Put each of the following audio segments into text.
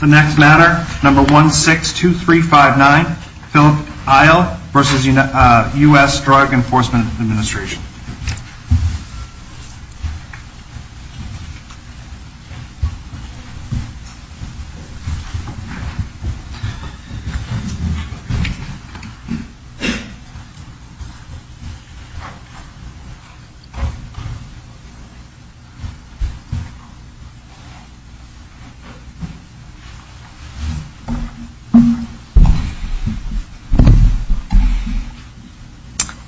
The next matter, number 162359, Philip Eil v. US Drug Enforcement Administration.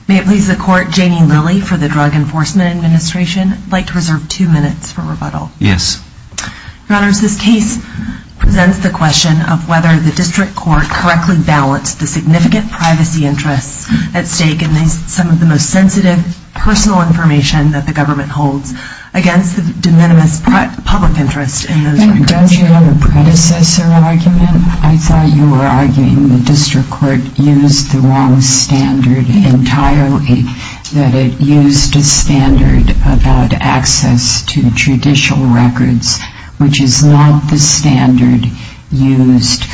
May it please the Court, Janie Lilly for the Drug Enforcement Administration would like to reserve two minutes for rebuttal. Yes. Your Honors, this case presents the question of whether the District Court correctly balanced the significant privacy interests at stake in some of the most sensitive personal information that the government holds against the de minimis public interest in those records. Don't you have a predecessor argument? I thought you were arguing the District Court used the wrong standard entirely, that it used a standard about access to judicial records, which is not the standard used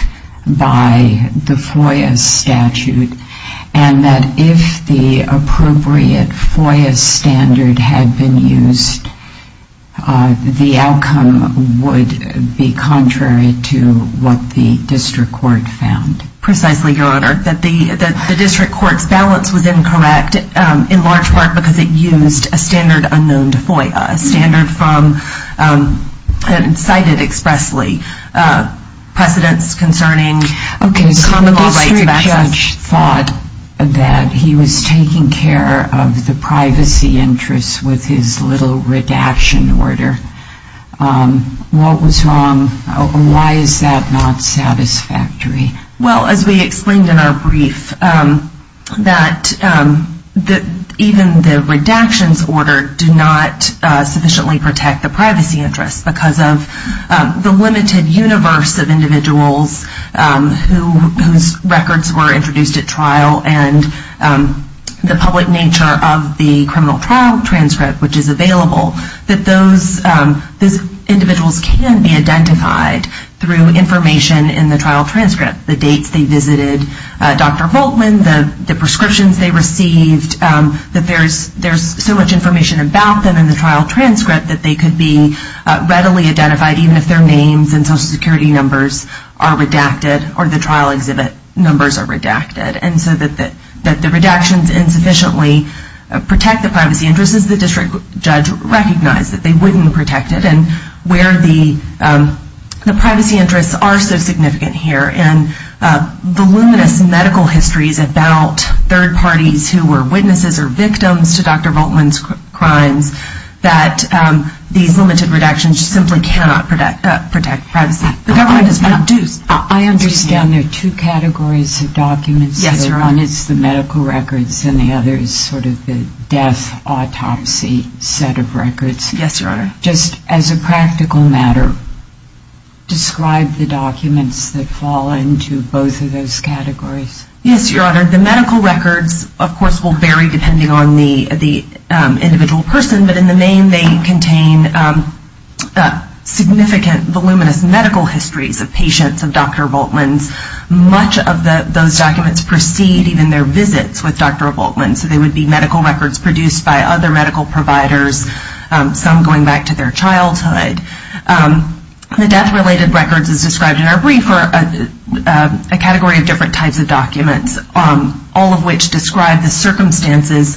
by the FOIA statute, and that if the appropriate FOIA standard had been used, the outcome would be contrary to what the District Court found. Precisely, Your Honor, that the District Court's balance was incorrect, in large part because it used a standard unknown to FOIA, a standard from, cited expressly, precedents concerning the common law rights of access. Okay, so the District Judge thought that he was taking care of the privacy interests with his little redaction order. What was wrong? Why is that not satisfactory? Well, as we explained in our brief, that even the redactions order did not sufficiently protect the privacy interests, because of the limited universe of individuals whose records were introduced at trial, and the public nature of the criminal trial transcript, which is available, that those individuals can be identified through information in the trial transcript. The dates they visited Dr. Volkman, the prescriptions they received, that there's so much information about them in the trial transcript that they could be readily identified, even if their names and Social Security numbers are redacted, or the trial exhibit numbers are redacted. And so that the redactions insufficiently protect the privacy interests, the District Judge recognized that they wouldn't protect it, and where the privacy interests are so significant here, and the luminous medical histories about third parties who were witnesses or victims to Dr. Volkman's crimes, that these limited redactions simply cannot protect privacy. The government is not due. I understand there are two categories of documents. Yes, Your Honor. One is the medical records, and the other is sort of the death autopsy set of records. Yes, Your Honor. Just as a practical matter, describe the documents that fall into both of those categories. Yes, Your Honor. The medical records, of course, will vary depending on the individual person, but in the main they contain significant, voluminous medical histories of patients of Dr. Volkman's. Much of those documents precede even their visits with Dr. Volkman. So they would be medical records produced by other medical providers, some going back to their childhood. The death-related records as described in our brief are a category of different types of documents, all of which describe the circumstances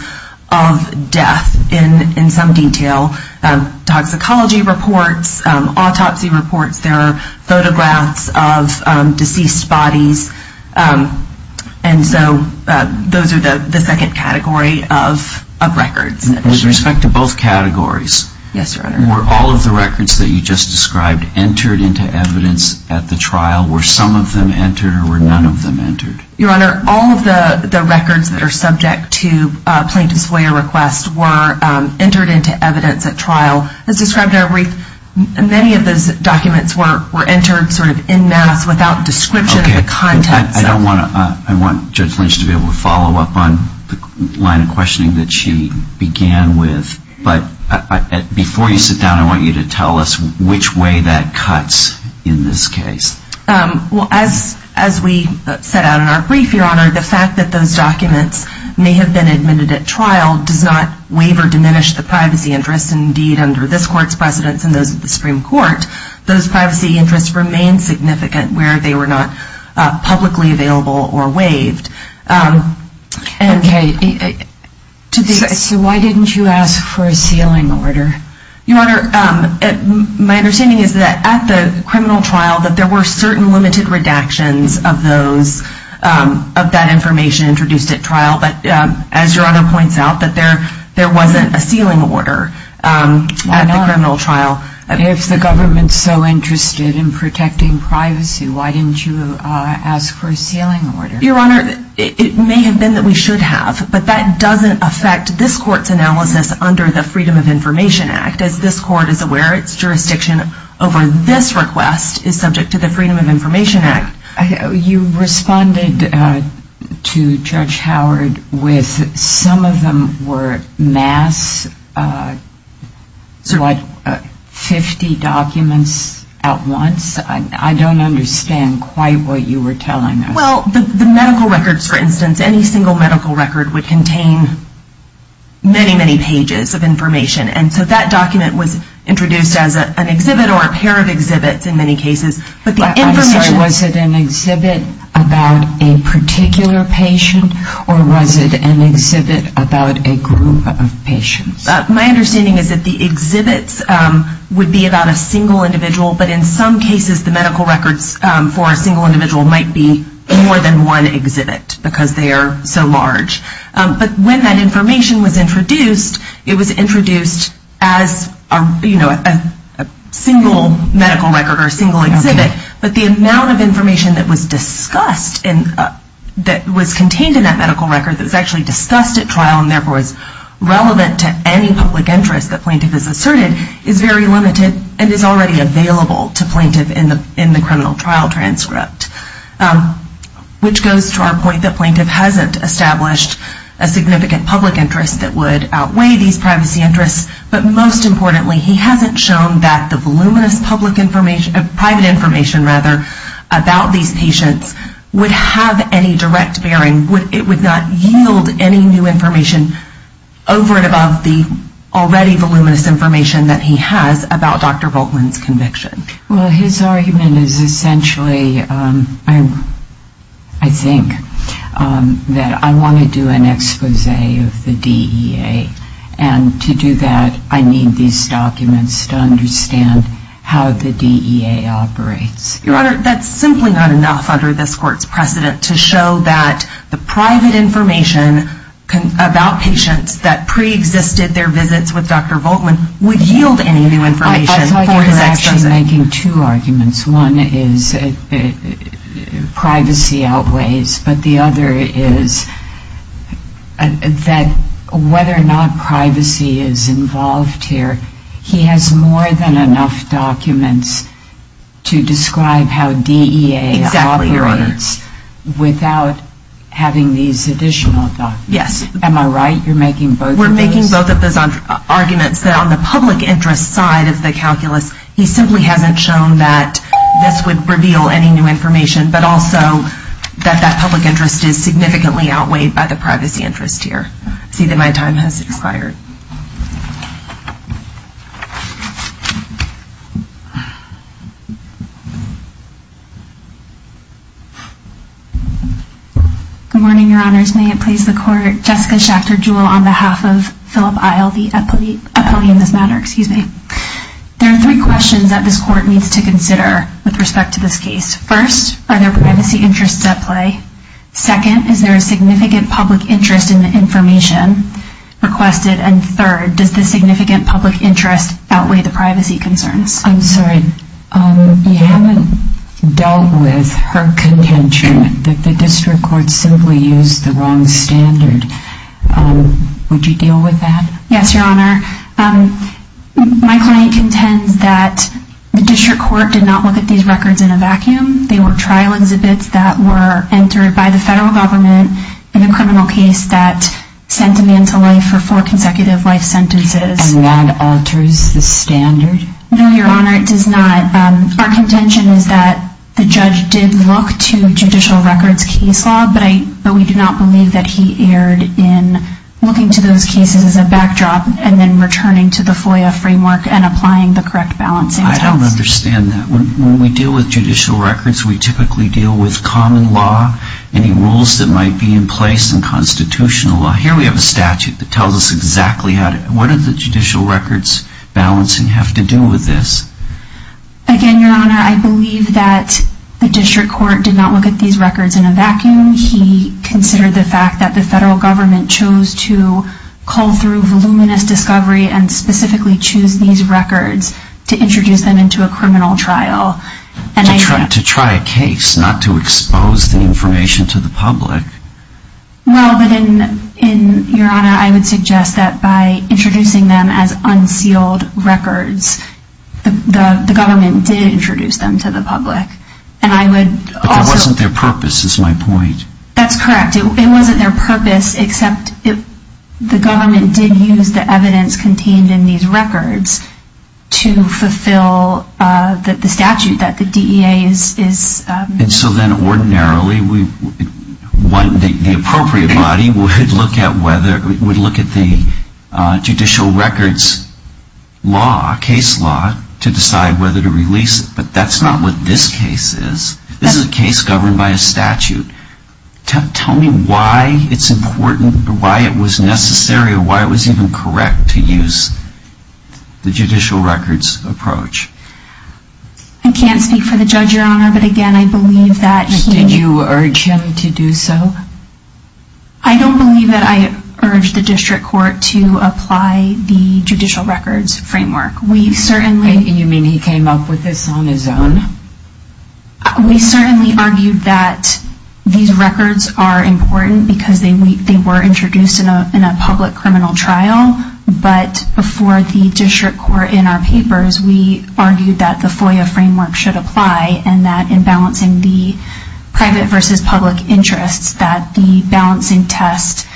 of death in some detail. Toxicology reports, autopsy reports, there are photographs of deceased bodies, and so those are the second category of records. With respect to both categories? Yes, Your Honor. Were all of the records that you just described entered into evidence at the trial? Were some of them entered, or were none of them entered? Your Honor, all of the records that are subject to plaintiff's FOIA request were entered into evidence at trial. As described in our brief, many of those documents were entered sort of en masse without description of the context. Okay. I want Judge Lynch to be able to follow up on the line of questioning that she began with, but before you sit down, I want you to tell us which way that cuts in this case. Well, as we set out in our brief, Your Honor, the fact that those documents may have been admitted at trial does not waive or diminish the privacy interests. Indeed, under this Court's precedents and those of the Supreme Court, those privacy interests remain significant where they were not publicly available or waived. Okay. So why didn't you ask for a sealing order? Your Honor, my understanding is that at the criminal trial, that there were certain limited redactions of that information introduced at trial, but as Your Honor points out, that there wasn't a sealing order at the criminal trial. Why not? If the government's so interested in protecting privacy, why didn't you ask for a sealing order? Your Honor, it may have been that we should have, but that doesn't affect this Court's analysis under the Freedom of Information Act, as this Court is aware its jurisdiction over this request is subject to the Freedom of Information Act. You responded to Judge Howard with some of them were mass, what, 50 documents at once? I don't understand quite what you were telling us. Well, the medical records, for instance, any single medical record would contain many, many pages of information. And so that document was introduced as an exhibit or a pair of exhibits in many cases. I'm sorry, was it an exhibit about a particular patient or was it an exhibit about a group of patients? My understanding is that the exhibits would be about a single individual, but in some medical records for a single individual might be more than one exhibit because they are so large. But when that information was introduced, it was introduced as a single medical record or a single exhibit, but the amount of information that was discussed, that was contained in that medical record that was actually discussed at trial and therefore is relevant to any public interest that plaintiff has asserted is very limited and is already available to you in a criminal trial transcript, which goes to our point that plaintiff hasn't established a significant public interest that would outweigh these privacy interests, but most importantly he hasn't shown that the voluminous public information, private information rather, about these patients would have any direct bearing, it would not yield any new information over and above the already voluminous information that he has about Dr. Volkman's conviction. Well, his argument is essentially, I think, that I want to do an expose of the DEA and to do that I need these documents to understand how the DEA operates. Your Honor, that's simply not enough under this Court's precedent to show that the private information about patients that preexisted their visits with Dr. Volkman would yield any new information. I thought you were actually making two arguments. One is privacy outweighs, but the other is that whether or not privacy is involved here, he has more than enough documents to describe how DEA operates without having these additional documents. Am I right? You're making both of those? He's making arguments that on the public interest side of the calculus he simply hasn't shown that this would reveal any new information, but also that that public interest is significantly outweighed by the privacy interest here. I see that my time has expired. Good morning, Your Honors. May it please the Court, Jessica Schachter Jewell on behalf of Philip Isle, the opponent in this matter. There are three questions that this Court needs to consider with respect to this case. First, are there privacy interests at play? Second, is there a significant public interest in the information requested? And third, does the significant public interest outweigh the privacy concerns? I'm sorry, you haven't dealt with her contention that the District Court simply used the wrong standard. Would you deal with that? Yes, Your Honor. My client contends that the District Court did not look at these records in a vacuum. They were trial exhibits that were entered by the federal government in a criminal case that sent a man to life for four consecutive life sentences. And that alters the standard? No, Your Honor, it does not. Our contention is that the judge did look to judicial records case law, but we do not believe that he erred in looking to those cases as a backdrop and then returning to the FOIA framework and applying the correct balancing acts. I don't understand that. When we deal with judicial records, we typically deal with common law, any rules that might be in place in constitutional law. Here we have a statute that tells us exactly how to, what do the judicial records balancing have to do with this? Again, Your Honor, I believe that the District Court did not look at these records in a vacuum. He considered the fact that the federal government chose to call through voluminous discovery and specifically choose these records to introduce them into a criminal trial. To try a case, not to expose the information to the public. Well, but then, Your Honor, I would suggest that by introducing them as unsealed records, the government did introduce them to the public. But that wasn't their purpose, is my point. That's correct. It wasn't their purpose except if the government did use the evidence contained in these records to fulfill the statute that the DEA is And so then ordinarily, the appropriate body would look at whether, would look at the judicial records law, case law, to decide whether to release it. But that's not what this case is. This is a case governed by a statute. Tell me why it's important or why it was necessary or why it was even correct to use the judicial records approach. I can't speak for the judge, Your Honor, but again, I believe that he Did you urge him to do so? I don't believe that I urged the District Court to apply the judicial records framework. You mean he came up with this on his own? We certainly argued that these records are important because they were introduced in a public criminal trial. But before the District Court in our papers, we argued that the FOIA framework should apply and that in balancing the private versus public interests, that the balancing test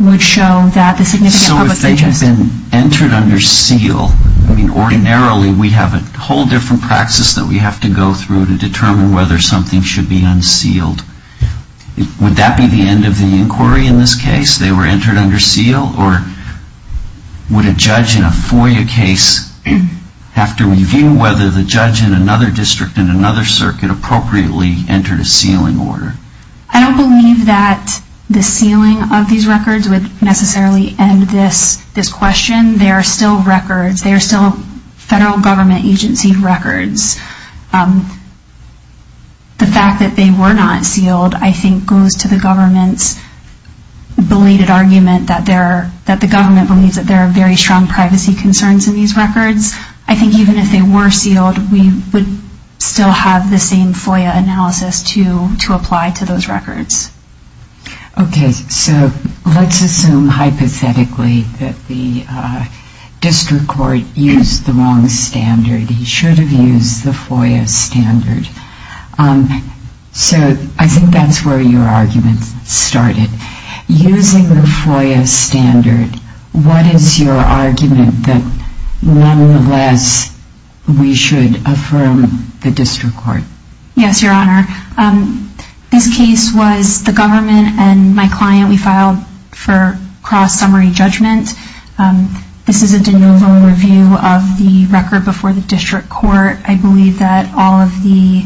would show that the significant public interest has been entered under seal. I mean, ordinarily, we have a whole different practice that we have to go through to determine whether something should be unsealed. Would that be the end of the inquiry in this case? They were entered under seal? Or would a judge in a FOIA case have to review whether the judge in another district in another circuit appropriately entered a sealing order? I don't believe that the sealing of these records would necessarily end this question. They are still records. They are still federal government agency records. The fact that they were not sealed, I think, goes to the government's belated argument that the government believes that there are very strong privacy concerns in these records. I think even if they were sealed, we would still have the same FOIA analysis to apply to those records. Okay. So let's assume hypothetically that the District Court used the wrong standard. He should have used the FOIA standard. So I think that's where your argument started. Using the FOIA standard, what is your argument that nonetheless we should affirm the District Court? Yes, Your Honor. This case was the government and my client, we filed for cross-summary judgment. This is a de novo review of the record before the District Court. I believe that all of the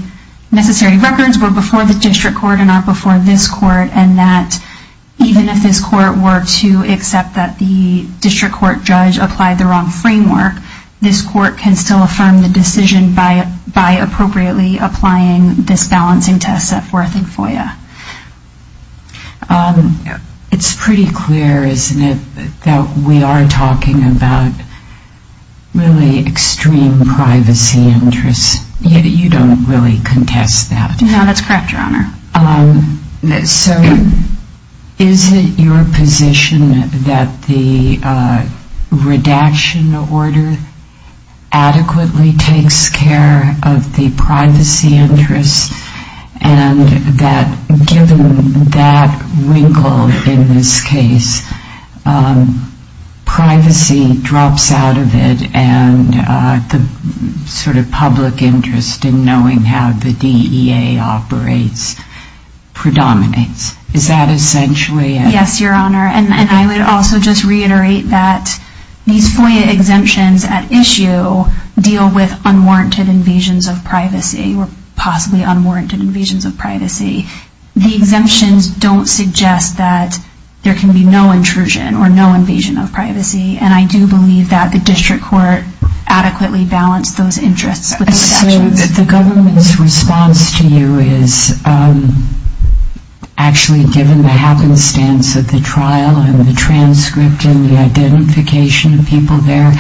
necessary records were before the District Court and not before this Court and that even if this Court were to accept that the District Court judge applied the wrong framework, this Court can still affirm the decision by appropriately applying this balancing test set forth in FOIA. It's pretty clear, isn't it, that we are talking about really extreme privacy interests. You don't really contest that. No, that's correct, Your Honor. So is it your position that the redaction order adequately takes care of the privacy interests and that given that wrinkle in this case, privacy drops out of it and the sort of public interest in knowing how the DEA operates predominates? Yes, Your Honor. And I would also just reiterate that these FOIA exemptions at issue deal with unwarranted invasions of privacy or possibly unwarranted invasions of privacy. The exemptions don't suggest that there can be no intrusion or no invasion of privacy and I do believe that the District Court adequately balanced those interests with the redactions. So the government's response to you is actually given the happenstance of the trial and the transcript and the identification of people there,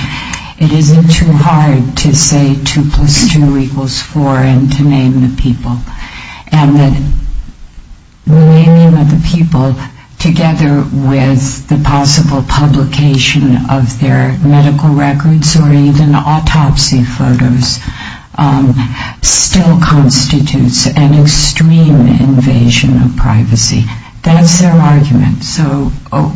it isn't too hard to say 2 plus 2 equals 4 and to name the people. And that naming of the people together with the possible publication of their medical records or even autopsy photos still constitutes an extreme invasion of privacy. That's their argument. So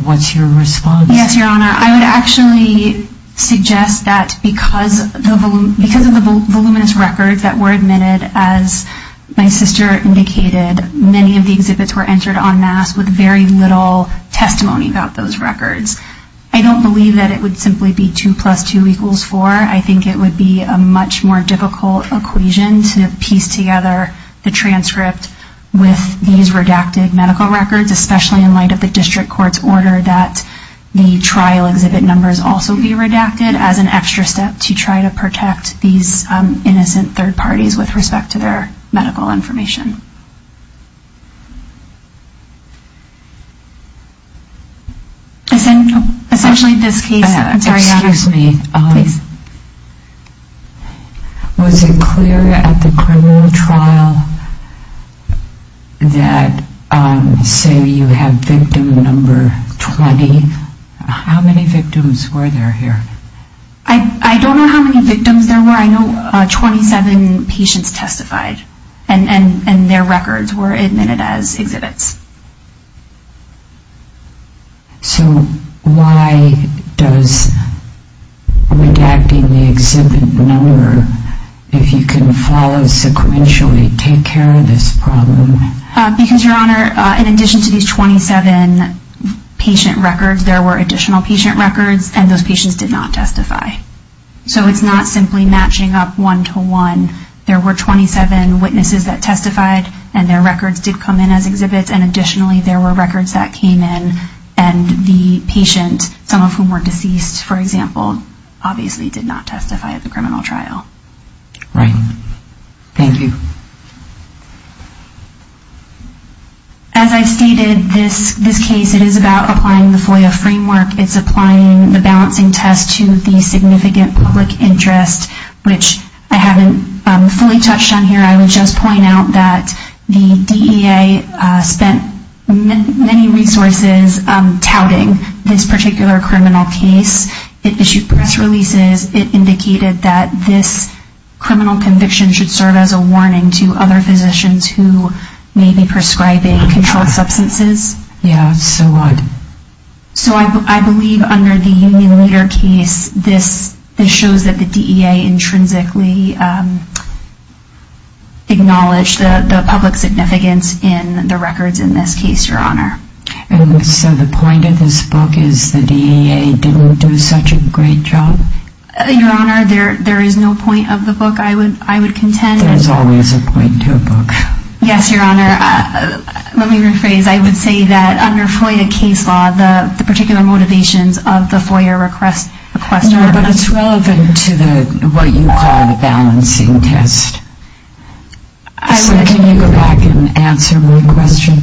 what's your response? Yes, Your Honor. I would actually suggest that because of the voluminous records that were admitted, as my sister indicated, many of the exhibits were entered en masse with very little testimony about those records. I don't believe that it would simply be 2 plus 2 equals 4. I think it would be a much more difficult equation to piece together the transcript with these redacted medical records, especially in light of the District Court's order that the trial exhibit numbers also be redacted as an extra step to try to protect these innocent third parties with respect to their medical information. Essentially this case... Excuse me. Was it clear at the criminal trial that say you have victim number 20? How many victims were there here? I don't know how many victims there were. I know 27 patients testified. And their records were admitted as exhibits. So why does redacting the exhibit number if you can follow sequentially take care of this problem? Because, Your Honor, in addition to these 27 patient records, there were additional patient records and those patients did not testify. So it's not simply matching up one-to-one. There were 27 witnesses that testified and their records did come in as exhibits and additionally there were records that came in and the patient, some of whom were deceased, for example, obviously did not testify at the criminal trial. Right. Thank you. As I stated, this case is about applying the FOIA framework. It's applying the balancing test to the significant public interest, which I haven't fully touched on here. I would just point out that the DEA spent many resources touting this particular criminal case. It issued press releases. It indicated that this criminal conviction should serve as a warning to other physicians who may be prescribing controlled substances. So I believe under the Union Leader case, this shows that the DEA intrinsically acknowledged the public significance in the records in this case, Your Honor. And so the point of this book is the DEA didn't do such a great job? Your Honor, there is no point of the book. I would contend. There's always a point to a book. Yes, Your Honor. Let me rephrase. I would say that under FOIA case law, the particular motivations of the FOIA request are... No, but it's relevant to what you call the balancing test. So can you go back and answer my question?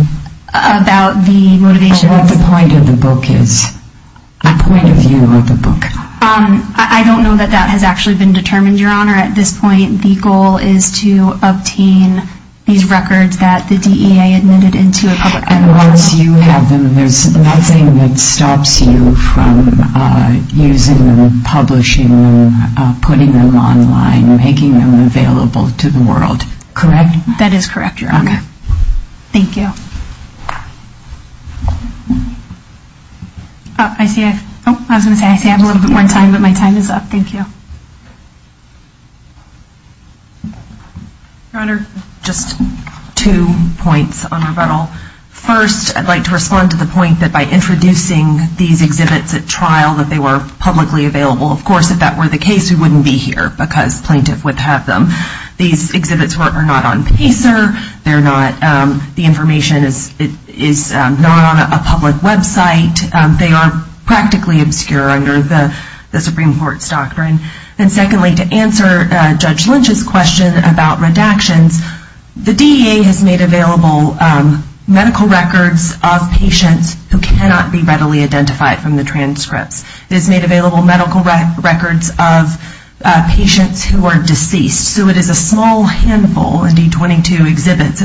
What the point of the book is? I don't know that that has actually been determined, Your Honor. At this point, the goal is to obtain these records that the DEA admitted into a public... And once you have them, there's nothing that stops you from using them, publishing them, putting them online, making them available to the world, correct? That is correct, Your Honor. I was going to say I have a little bit more time, but my time is up. Thank you. Your Honor, just two points on Roberto. First, I'd like to respond to the point that by introducing these exhibits at trial, that they were publicly available. Of course, if that were the case, we wouldn't be here because plaintiff would have them. These exhibits are not on Pacer. The information is not on a public website. They are practically obscure under the Supreme Court's doctrine. And secondly, to answer Judge Lynch's question about redactions, the DEA has made available medical records of patients who cannot be readily identified from the transcripts. It has made available medical records of patients who are deceased. So it is a small handful of D-22 exhibits,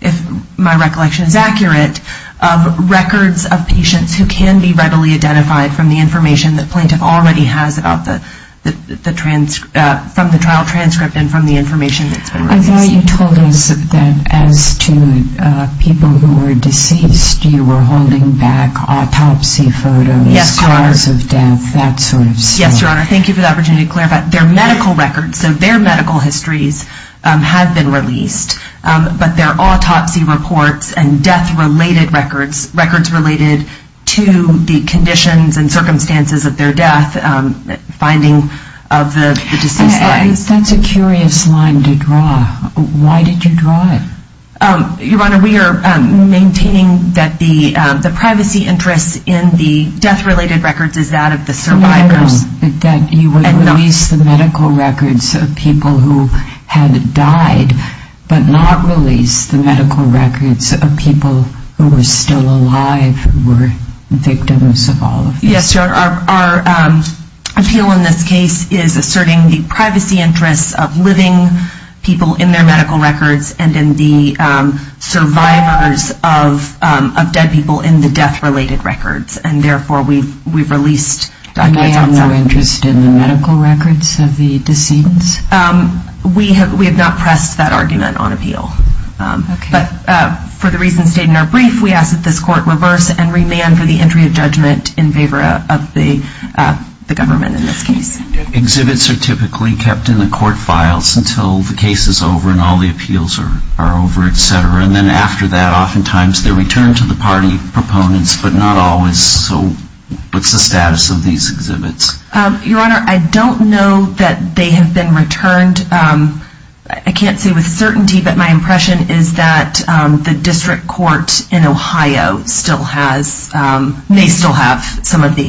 if my recollection is accurate, of records of patients who can be readily identified from the information that plaintiff already has from the trial transcript and from the information that's been released. I thought you told us that as to people who were deceased, you were holding back autopsy photos, scars of death, that sort of stuff. Yes, Your Honor. Thank you for the opportunity to clarify. Their medical records, so their medical histories have been released, but their autopsy reports and death-related records, records related to the conditions and circumstances of their death, finding of the deceased's life. That's a curious line to draw. Why did you draw it? Your Honor, we are maintaining that the privacy interest in the death-related records is that of the survivors. No, that you would release the medical records of people who had died, but not release the medical records of people who were still alive, who were victims of all of this. Yes, Your Honor. Our appeal in this case is asserting the privacy interests of living people in their medical records and in the survivors of dead people in the death-related records, and therefore we've released documents on some of them. And you have no interest in the medical records of the deceased? We have not pressed that argument on appeal. But for the reasons stated in our brief, we ask that this court reverse and remand for the entry of judgment in favor of the government in this case. Exhibits are typically kept in the court files until the case is over and all the appeals are over, etc. And then after that, oftentimes they're returned to the party proponents, but not always. So what's the status of these exhibits? Your Honor, I don't know that they have been returned. I can't say with certainty, but my impression is that the District Court in Ohio may still have some of the exhibits. Okay, thank you.